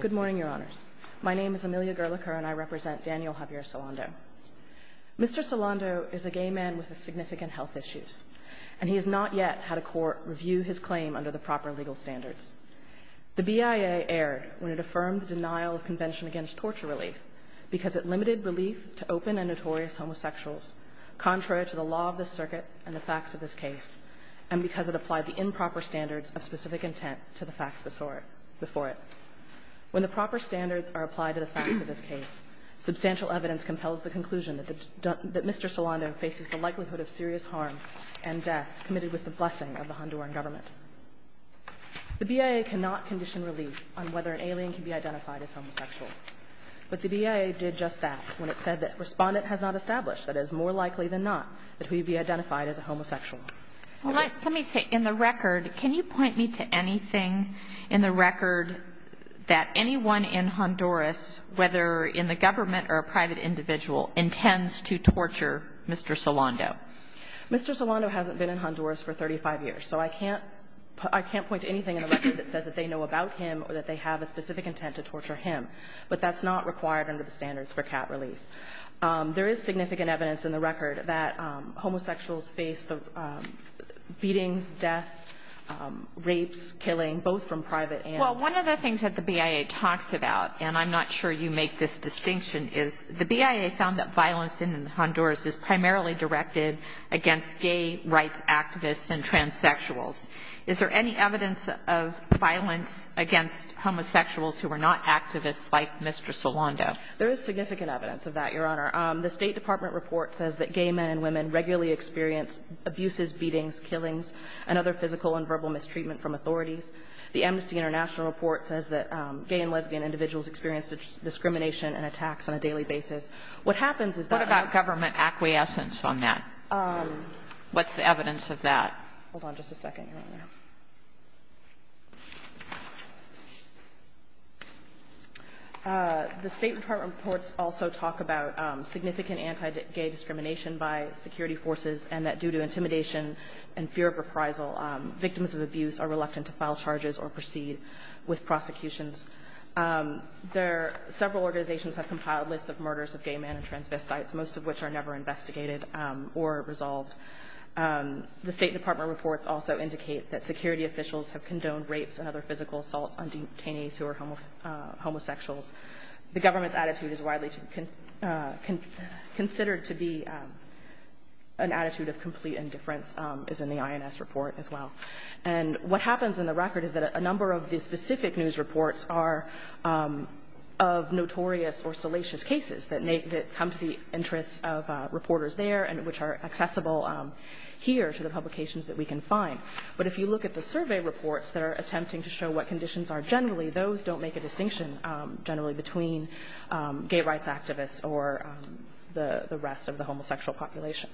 Good morning, Your Honor. My name is Amelia Gerlacher, and I represent Daniel Javier Solando. Mr. Solando is a gay man with significant health issues, and he has not yet had a court review his claim under the proper legal standards. The BIA erred when it affirmed the denial of Convention Against Torture Relief because it limited relief to open and notorious homosexuals, contrary to the law of the circuit and the facts of this case, and because it applied the improper standards of specific intent to the facts before it. When the proper standards are applied to the facts of this case, substantial evidence compels the conclusion that Mr. Solando faces the likelihood of serious harm and death committed with the blessing of the Honduran government. The BIA cannot condition relief on whether an alien can be identified as homosexual, but the BIA did just that when it said that Respondent has not established that it is more likely than not that he would be identified as a homosexual. Let me say, in the record, can you point me to anything in the record that anyone in Honduras, whether in the government or a private individual, intends to torture Mr. Solando? Mr. Solando hasn't been in Honduras for 35 years, so I can't point to anything in the record that says that they know about him or that they have a specific intent to torture him, but that's not required under the standards for cat relief. There is significant evidence in the record that homosexuals face the beatings, death, rapes, killing, both from private animals. Well, one of the things that the BIA talks about, and I'm not sure you make this distinction, is the BIA found that violence in Honduras is primarily directed against gay rights activists and transsexuals. Is there any evidence of violence against homosexuals who are not activists like Mr. Solando? There is significant evidence of that, Your Honor. The State Department report says that gay men and women regularly experience abuses, beatings, killings, and other physical and verbal mistreatment from authorities. The Amnesty International report says that gay and lesbian individuals experience discrimination and attacks on a daily basis. What happens is that the government acquiescence on that, what's the evidence of that? Hold on just a second, Your Honor. The State Department reports also talk about significant anti-gay discrimination by security forces and that due to intimidation and fear of reprisal, victims of abuse are reluctant to file charges or proceed with prosecutions. Several organizations have compiled lists of murders of gay men and transvestites, most of which are never investigated or resolved. The State Department reports also indicate that security officials have condoned rapes and other physical assaults on detainees who are homosexuals. The government's attitude is widely considered to be an attitude of complete indifference, as in the INS report as well. And what happens in the record is that a number of the specific news reports are of notorious or salacious cases that come to the interest of reporters there and which are accessible here to the publications that we can find. But if you look at the survey reports that are attempting to show what conditions are generally, those don't make a distinction generally between gay rights activists or the rest of the homosexual population.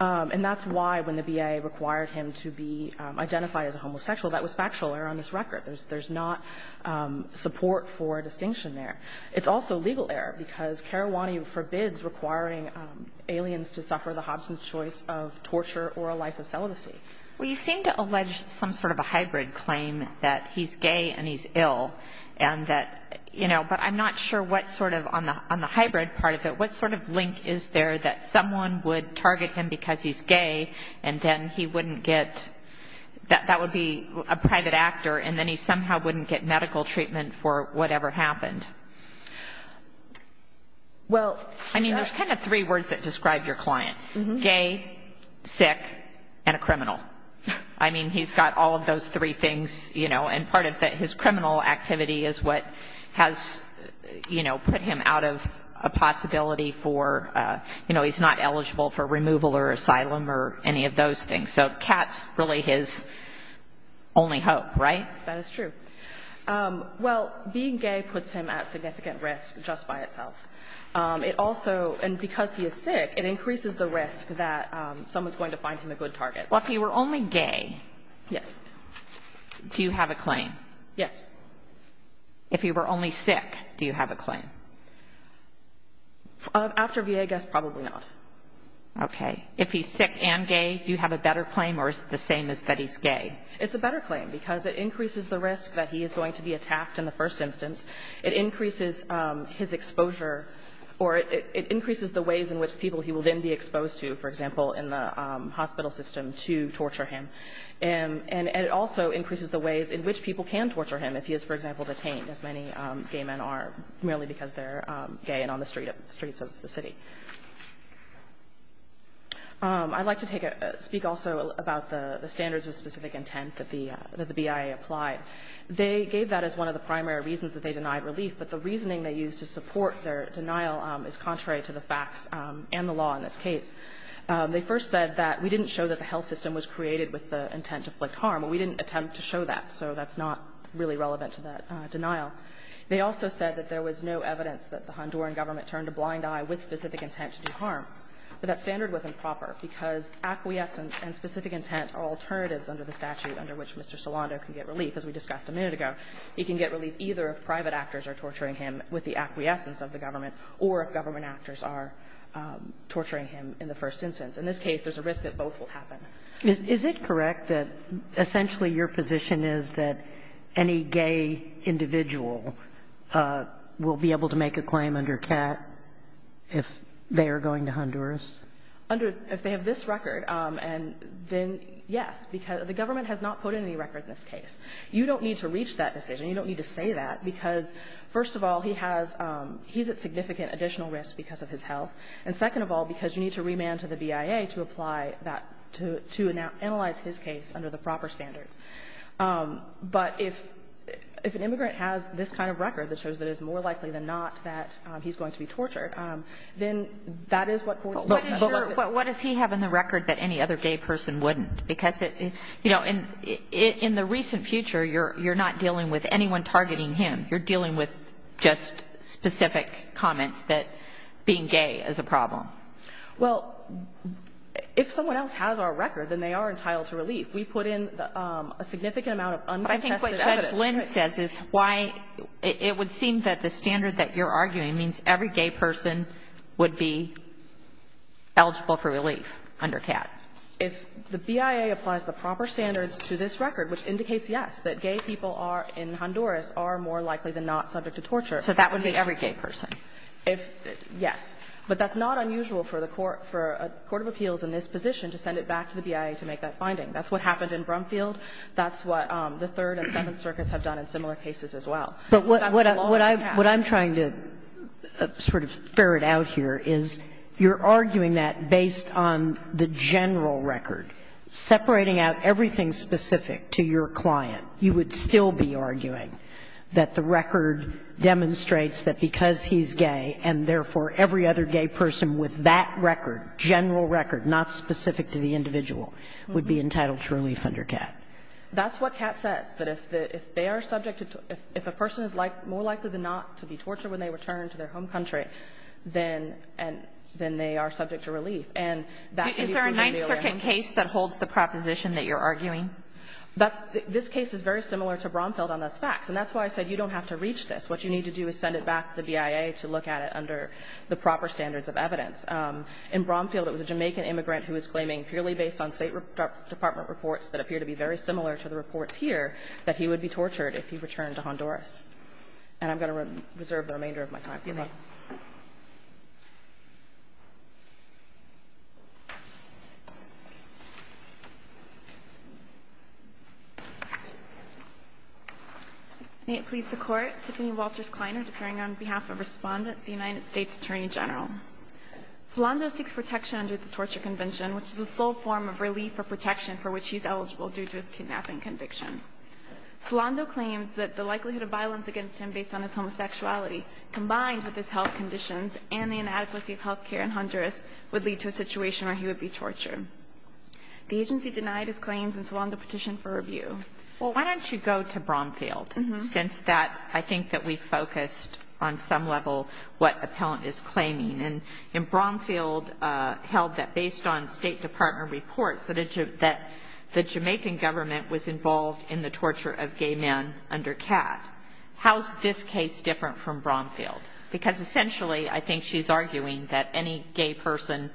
And that's why when the BIA required him to be identified as a homosexual, that was factual on this record. There's not support for distinction there. It's also legal error because Karawani forbids requiring aliens to suffer the Hobson's choice of torture or a life of celibacy. Well, you seem to allege some sort of a hybrid claim that he's gay and he's ill and that, you know, but I'm not sure what sort of on the hybrid part of it, what sort of link is there that someone would target him because he's gay and then he wouldn't get – that would be a private actor and then he somehow wouldn't get medical treatment for whatever happened. Well, I mean, there's kind of three words that describe your client, gay, sick, and a criminal. I mean, he's got all of those three things, you know, and part of his criminal activity is what has, you know, put him out of a possibility for, you know, he's not eligible for removal or asylum or any of those things. So Kat's really his only hope, right? That is true. Well, being gay puts him at significant risk just by itself. It also – and because he is sick, it increases the risk that someone's going to find him a good target. Well, if he were only gay – Yes. Do you have a claim? Yes. If he were only sick, do you have a claim? After VA, I guess probably not. Okay. If he's sick and gay, do you have a better claim or is it the same as that he's gay? It's a better claim because it increases the risk that he is going to be attacked in the first instance. It increases his exposure or it increases the ways in which people he will then be exposed to, for example, in the hospital system, to torture him. And it also increases the ways in which people can torture him if he is, for example, detained, as many gay men are, merely because they're gay and on the streets of the city. I'd like to take a – speak also about the standards of specific intent that the BIA applied. They gave that as one of the primary reasons that they denied relief, but the reasoning they used to support their denial is contrary to the facts and the law in this case. They first said that we didn't show that the health system was created with the intent to inflict harm, but we didn't attempt to show that, so that's not really relevant to that denial. They also said that there was no evidence that the Honduran government turned a blind eye with specific intent to do harm, but that standard was improper because acquiescence and specific intent are alternatives under the statute under which Mr. Solando can get relief, as we discussed a minute ago. He can get relief either if private actors are torturing him with the acquiescence of the government or if government actors are torturing him in the first instance. In this case, there's a risk that both will happen. Kagan is it correct that essentially your position is that any gay individual will be able to make a claim under CAT if they are going to Honduras? Under – if they have this record, and then, yes, because the government has not put in any record in this case. You don't need to reach that decision. You don't need to say that, because, first of all, he has – he's at significant additional risk because of his health, and second of all, because you need to remand to the BIA to apply that – to analyze his case under the proper standards. But if – if an immigrant has this kind of record that shows that it's more likely than not that he's going to be tortured, then that is what courts – But what is your – what does he have in the record that any other gay person wouldn't? Because, you know, in the recent future, you're not dealing with anyone targeting him. You're dealing with just specific comments that being gay is a problem. Well, if someone else has our record, then they are entitled to relief. We put in a significant amount of uncontested evidence. I think what Judge Lynn says is why – it would seem that the standard that you're arguing means every gay person would be eligible for relief under CAT. If the BIA applies the proper standards to this record, which indicates, yes, that gay people are – in Honduras are more likely than not subject to torture. So that would be every gay person. If – yes. But that's not unusual for the court – for a court of appeals in this position to send it back to the BIA to make that finding. That's what happened in Brumfield. That's what the Third and Seventh Circuits have done in similar cases as well. But that's the law of CAT. But what I'm trying to sort of ferret out here is you're arguing that based on the general record, separating out everything specific to your client, you would still be arguing that the record demonstrates that because he's gay and therefore every other gay person with that record, general record, not specific to the individual, would be entitled to relief under CAT. That's what CAT says, that if they are subject to – if a person is more likely than not to be tortured when they return to their home country, then they are subject And that's what you're arguing. Is there a Ninth Circuit case that holds the proposition that you're arguing? That's – this case is very similar to Brumfield on those facts. And that's why I said you don't have to reach this. What you need to do is send it back to the BIA to look at it under the proper standards of evidence. In Brumfield, it was a Jamaican immigrant who was claiming, purely based on State Department reports that appear to be very similar to the reports here, that he would be tortured if he returned to Honduras. And I'm going to reserve the remainder of my time. Thank you. May it please the Court. Tiffany Walters Kleiner, appearing on behalf of Respondent, the United States Attorney General. Solando seeks protection under the Torture Convention, which is the sole form of relief or protection for which he's eligible due to his kidnapping conviction. Solando claims that the likelihood of violence against him based on his homosexuality combined with his health conditions and the inadequacy of health care in Honduras would lead to a situation where he would be tortured. The agency denied his claims, and Solando petitioned for review. Why don't you go to Brumfield? Since that, I think that we focused on some level what appellant is claiming. And in Brumfield held that based on State Department reports that the Jamaican government was involved in the torture of gay men under CAT. How is this case different from Brumfield? Because essentially, I think she's arguing that any gay person.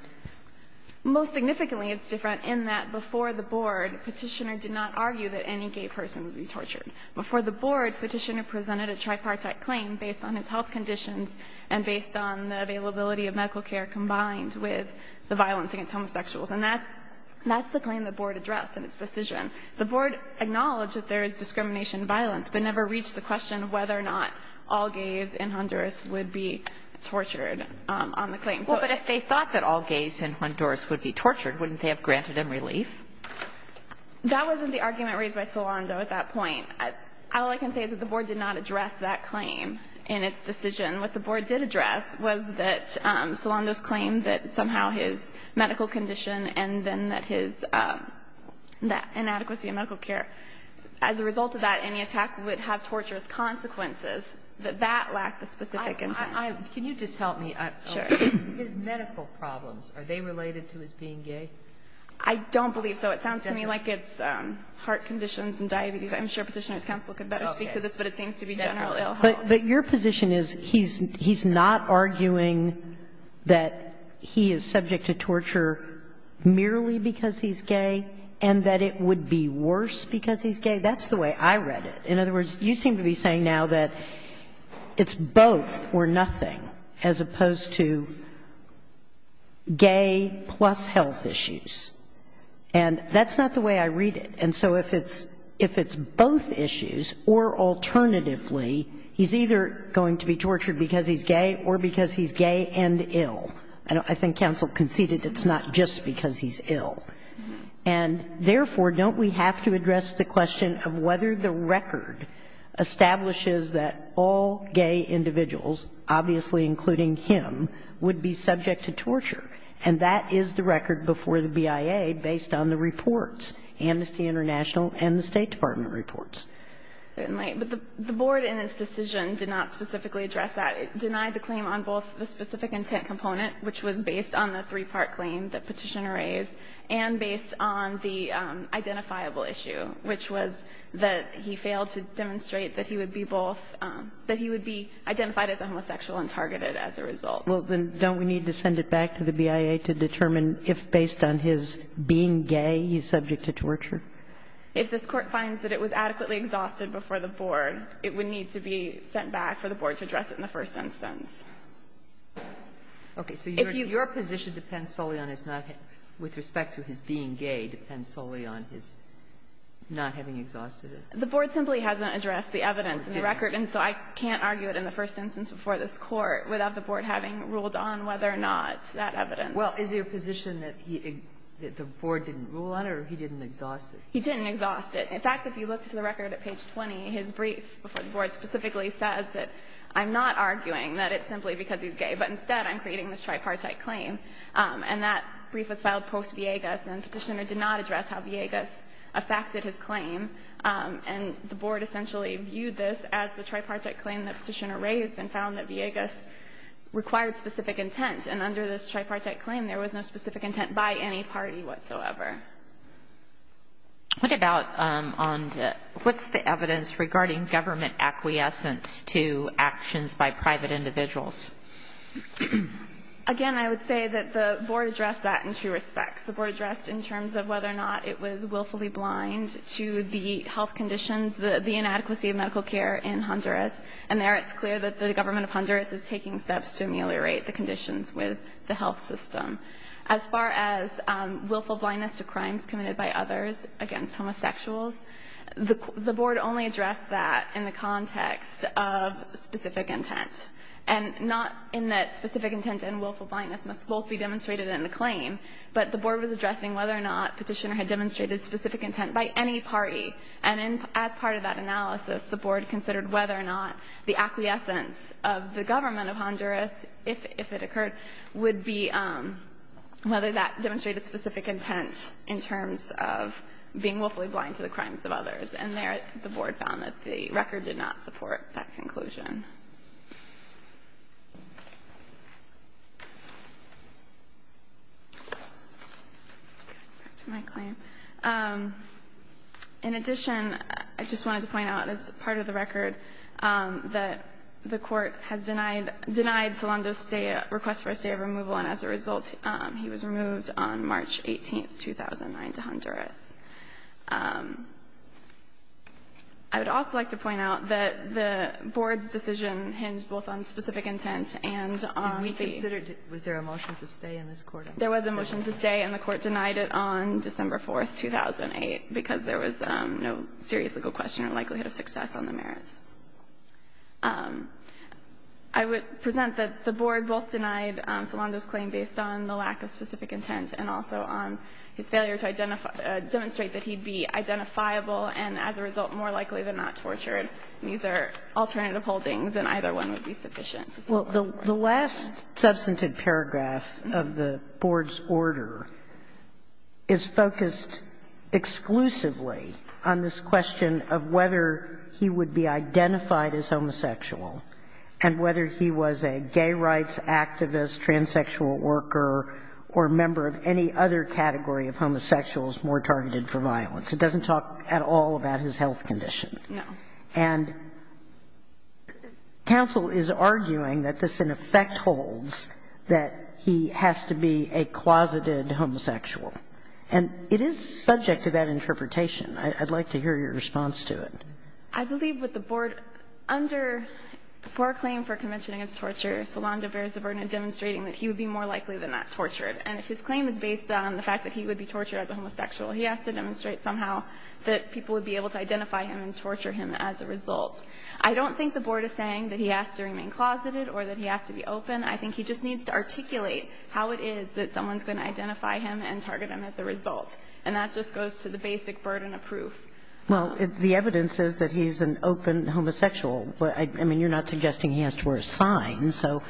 Most significantly, it's different in that before the board, petitioner did not argue that any gay person would be tortured. Before the board, petitioner presented a tripartite claim based on his health conditions and based on the availability of medical care combined with the violence against homosexuals, and that's the claim the board addressed in its decision. The board acknowledged that there is discrimination and violence, but never reached the question of whether or not all gays in Honduras would be tortured on the claim. So if they thought that all gays in Honduras would be tortured, wouldn't they have granted them relief? That wasn't the argument raised by Solando at that point. All I can say is that the board did not address that claim in its decision. What the board did address was that Solando's claim that somehow his medical condition and then that his inadequacy in medical care, as a result of that, any attack would have torturous consequences, that that lacked the specific intent. Can you just help me? Sure. His medical problems, are they related to his being gay? I don't believe so. It sounds to me like it's heart conditions and diabetes. I'm sure Petitioner's counsel could better speak to this, but it seems to be general ill health. But your position is he's not arguing that he is subject to torture merely because he's gay and that it would be worse because he's gay? That's the way I read it. In other words, you seem to be saying now that it's both or nothing, as opposed to gay plus health issues. And that's not the way I read it. And so if it's both issues or alternatively, he's either going to be tortured because he's gay or because he's gay and ill. I think counsel conceded it's not just because he's ill. And therefore, don't we have to address the question of whether the record establishes that all gay individuals, obviously including him, would be subject to torture? And that is the record before the BIA based on the reports, Amnesty International and the State Department reports. Certainly. But the board in its decision did not specifically address that. It denied the claim on both the specific intent component, which was based on the three-part claim that Petitioner raised, and based on the identifiable issue, which was that he failed to demonstrate that he would be both – that he would be identified as a homosexual and targeted as a result. Well, then don't we need to send it back to the BIA to determine if, based on his being gay, he's subject to torture? If this Court finds that it was adequately exhausted before the board, it would need to be sent back for the board to address it in the first instance. Okay. So your position depends solely on his not – with respect to his being gay depends solely on his not having exhausted it? The board simply hasn't addressed the evidence in the record, and so I can't argue it in the first instance before this Court without the board having ruled on whether or not that evidence. Well, is it a position that he – that the board didn't rule on or he didn't exhaust it? He didn't exhaust it. In fact, if you look to the record at page 20, his brief before the board specifically says that I'm not arguing that it's simply because he's gay, but instead I'm creating this tripartite claim. And that brief was filed post-Villegas, and Petitioner did not address how Villegas affected his claim. And the board essentially viewed this as the tripartite claim that Petitioner raised and found that Villegas required specific intent. And under this tripartite claim, there was no specific intent by any party whatsoever. What about on – what's the evidence regarding government acquiescence to actions by private individuals? Again, I would say that the board addressed that in two respects. The board addressed in terms of whether or not it was willfully blind to the health conditions, the inadequacy of medical care in Honduras. And there it's clear that the government of Honduras is taking steps to ameliorate the conditions with the health system. As far as willful blindness to crimes committed by others against homosexuals, the board only addressed that in the context of specific intent, and not in that specific intent and willful blindness must both be demonstrated in the claim. But the board was addressing whether or not Petitioner had demonstrated specific intent by any party. And as part of that analysis, the board considered whether or not the acquiescence of the government of Honduras, if it occurred, would be whether that demonstrated specific intent in terms of being willfully blind to the crimes of others. And there the board found that the record did not support that conclusion. Back to my claim. In addition, I just wanted to point out, as part of the record, that the Court has denied Solando's request for a stay of removal, and as a result, he was removed on March 18, 2009, to Honduras. I would also like to point out that the board's decision hinged both on specific intent and on the merits. Kagan. Was there a motion to stay in this court? There was a motion to stay, and the Court denied it on December 4, 2008, because there was no serious legal question or likelihood of success on the merits. I would present that the board both denied Solando's claim based on the lack of specific intent and also on his failure to demonstrate that he'd be identifiable and, as a result, more likely than not tortured. These are alternative holdings, and either one would be sufficient. Well, the last substantive paragraph of the board's order is focused exclusively on this question of whether he would be identified as homosexual and whether he was a gay rights activist, transsexual worker, or member of any other category of homosexuals more targeted for violence. It doesn't talk at all about his health condition. No. And counsel is arguing that this, in effect, holds that he has to be a closeted homosexual. And it is subject to that interpretation. I'd like to hear your response to it. I believe with the board, under the foreclaim for convention against torture, Solando bears the burden of demonstrating that he would be more likely than not tortured. And if his claim is based on the fact that he would be tortured as a homosexual, he has to demonstrate somehow that people would be able to identify him and torture him as a result. I don't think the board is saying that he has to remain closeted or that he has to be open. I think he just needs to articulate how it is that someone's going to identify him and target him as a result, and that just goes to the basic burden of proof. Well, the evidence says that he's an open homosexual. I mean, you're not suggesting he has to wear a sign. So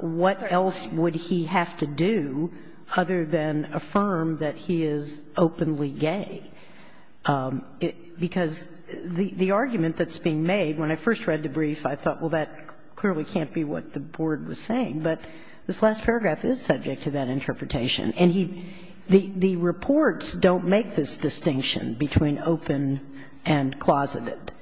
what else would he have to do other than affirm that he is openly gay? Because the argument that's being made, when I first read the brief, I thought, well, that clearly can't be what the board was saying. But this last paragraph is subject to that interpretation. And the reports don't make this distinction between open and closeted.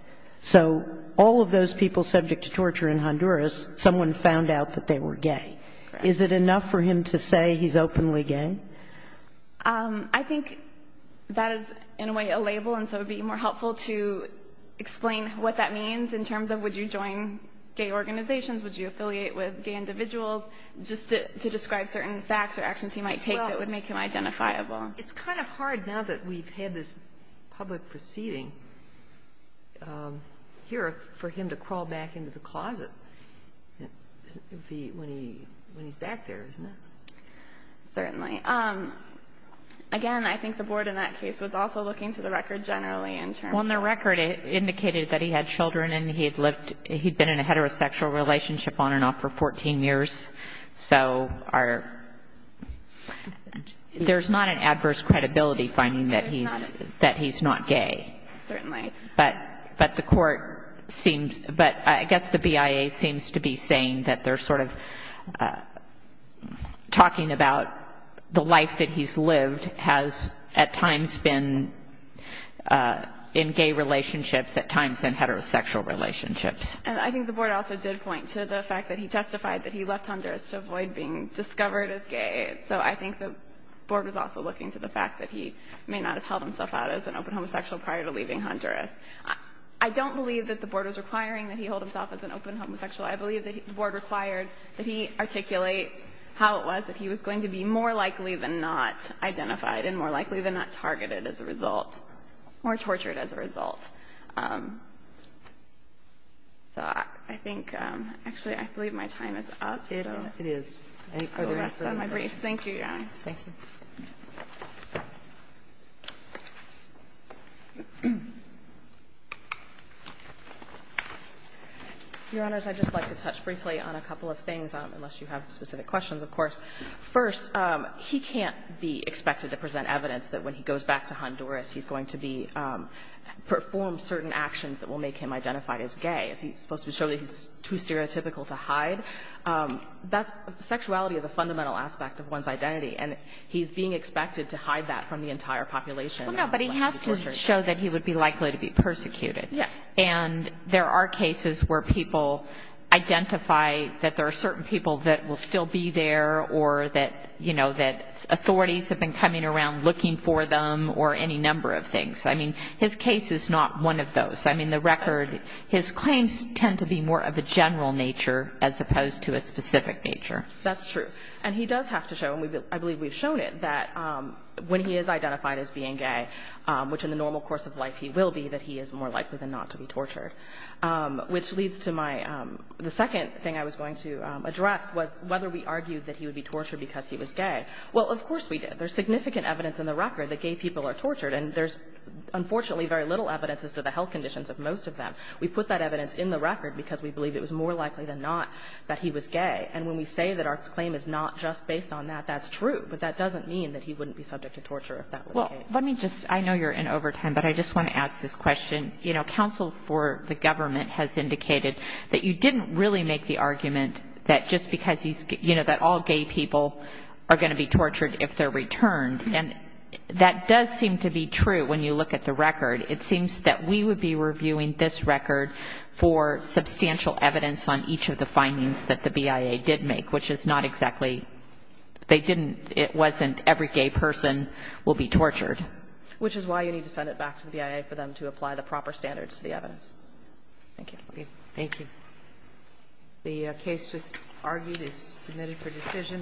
So all of those people subject to torture in Honduras, someone found out that they were gay. Is it enough for him to say he's openly gay? I think that is, in a way, a label, and so it would be more helpful to explain what that means in terms of would you join gay organizations, would you affiliate with gay individuals, just to describe certain facts or actions he might take that would make him identifiable. Well, it's kind of hard now that we've had this public proceeding here for him to crawl back into the closet when he's back there, isn't it? Certainly. Again, I think the board in that case was also looking to the record generally in terms of the record. Well, and the record indicated that he had children and he had lived he'd been in a relationship for 14 years. So there's not an adverse credibility finding that he's not gay. Certainly. But the court seemed, but I guess the BIA seems to be saying that they're sort of talking about the life that he's lived has at times been in gay relationships at times in heterosexual relationships. And I think the board also did point to the fact that he testified that he left Honduras to avoid being discovered as gay. So I think the board was also looking to the fact that he may not have held himself out as an open homosexual prior to leaving Honduras. I don't believe that the board was requiring that he hold himself as an open homosexual. I believe that the board required that he articulate how it was that he was going to be more likely than not identified and more likely than not targeted as a result or tortured as a result. So I think, actually, I believe my time is up. It is. Any further questions? Thank you, Your Honor. Thank you. Your Honors, I'd just like to touch briefly on a couple of things, unless you have specific questions, of course. First, he can't be expected to present evidence that when he goes back to Honduras he's going to perform certain actions that will make him identified as gay. He's supposed to show that he's too stereotypical to hide. Sexuality is a fundamental aspect of one's identity. And he's being expected to hide that from the entire population. Well, no, but he has to show that he would be likely to be persecuted. Yes. And there are cases where people identify that there are certain people that will still be there or that, you know, that authorities have been coming around looking for them or any number of things. I mean, his case is not one of those. I mean, the record, his claims tend to be more of a general nature as opposed to a specific nature. That's true. And he does have to show, and I believe we've shown it, that when he is identified as being gay, which in the normal course of life he will be, that he is more likely than not to be tortured. Which leads to my the second thing I was going to address was whether we argued that he would be tortured because he was gay. Well, of course we did. There's significant evidence in the record that gay people are tortured, and there's unfortunately very little evidence as to the health conditions of most of them. We put that evidence in the record because we believe it was more likely than not that he was gay. And when we say that our claim is not just based on that, that's true. But that doesn't mean that he wouldn't be subject to torture if that were the case. Well, let me just – I know you're in overtime, but I just want to ask this question. You know, counsel for the government has indicated that you didn't really make the argument that just because he's – you know, that all gay people are going to be tortured, and that does seem to be true when you look at the record. It seems that we would be reviewing this record for substantial evidence on each of the findings that the BIA did make, which is not exactly – they didn't – it wasn't every gay person will be tortured. Which is why you need to send it back to the BIA for them to apply the proper standards to the evidence. Thank you. Thank you. The case just argued is submitted for decision.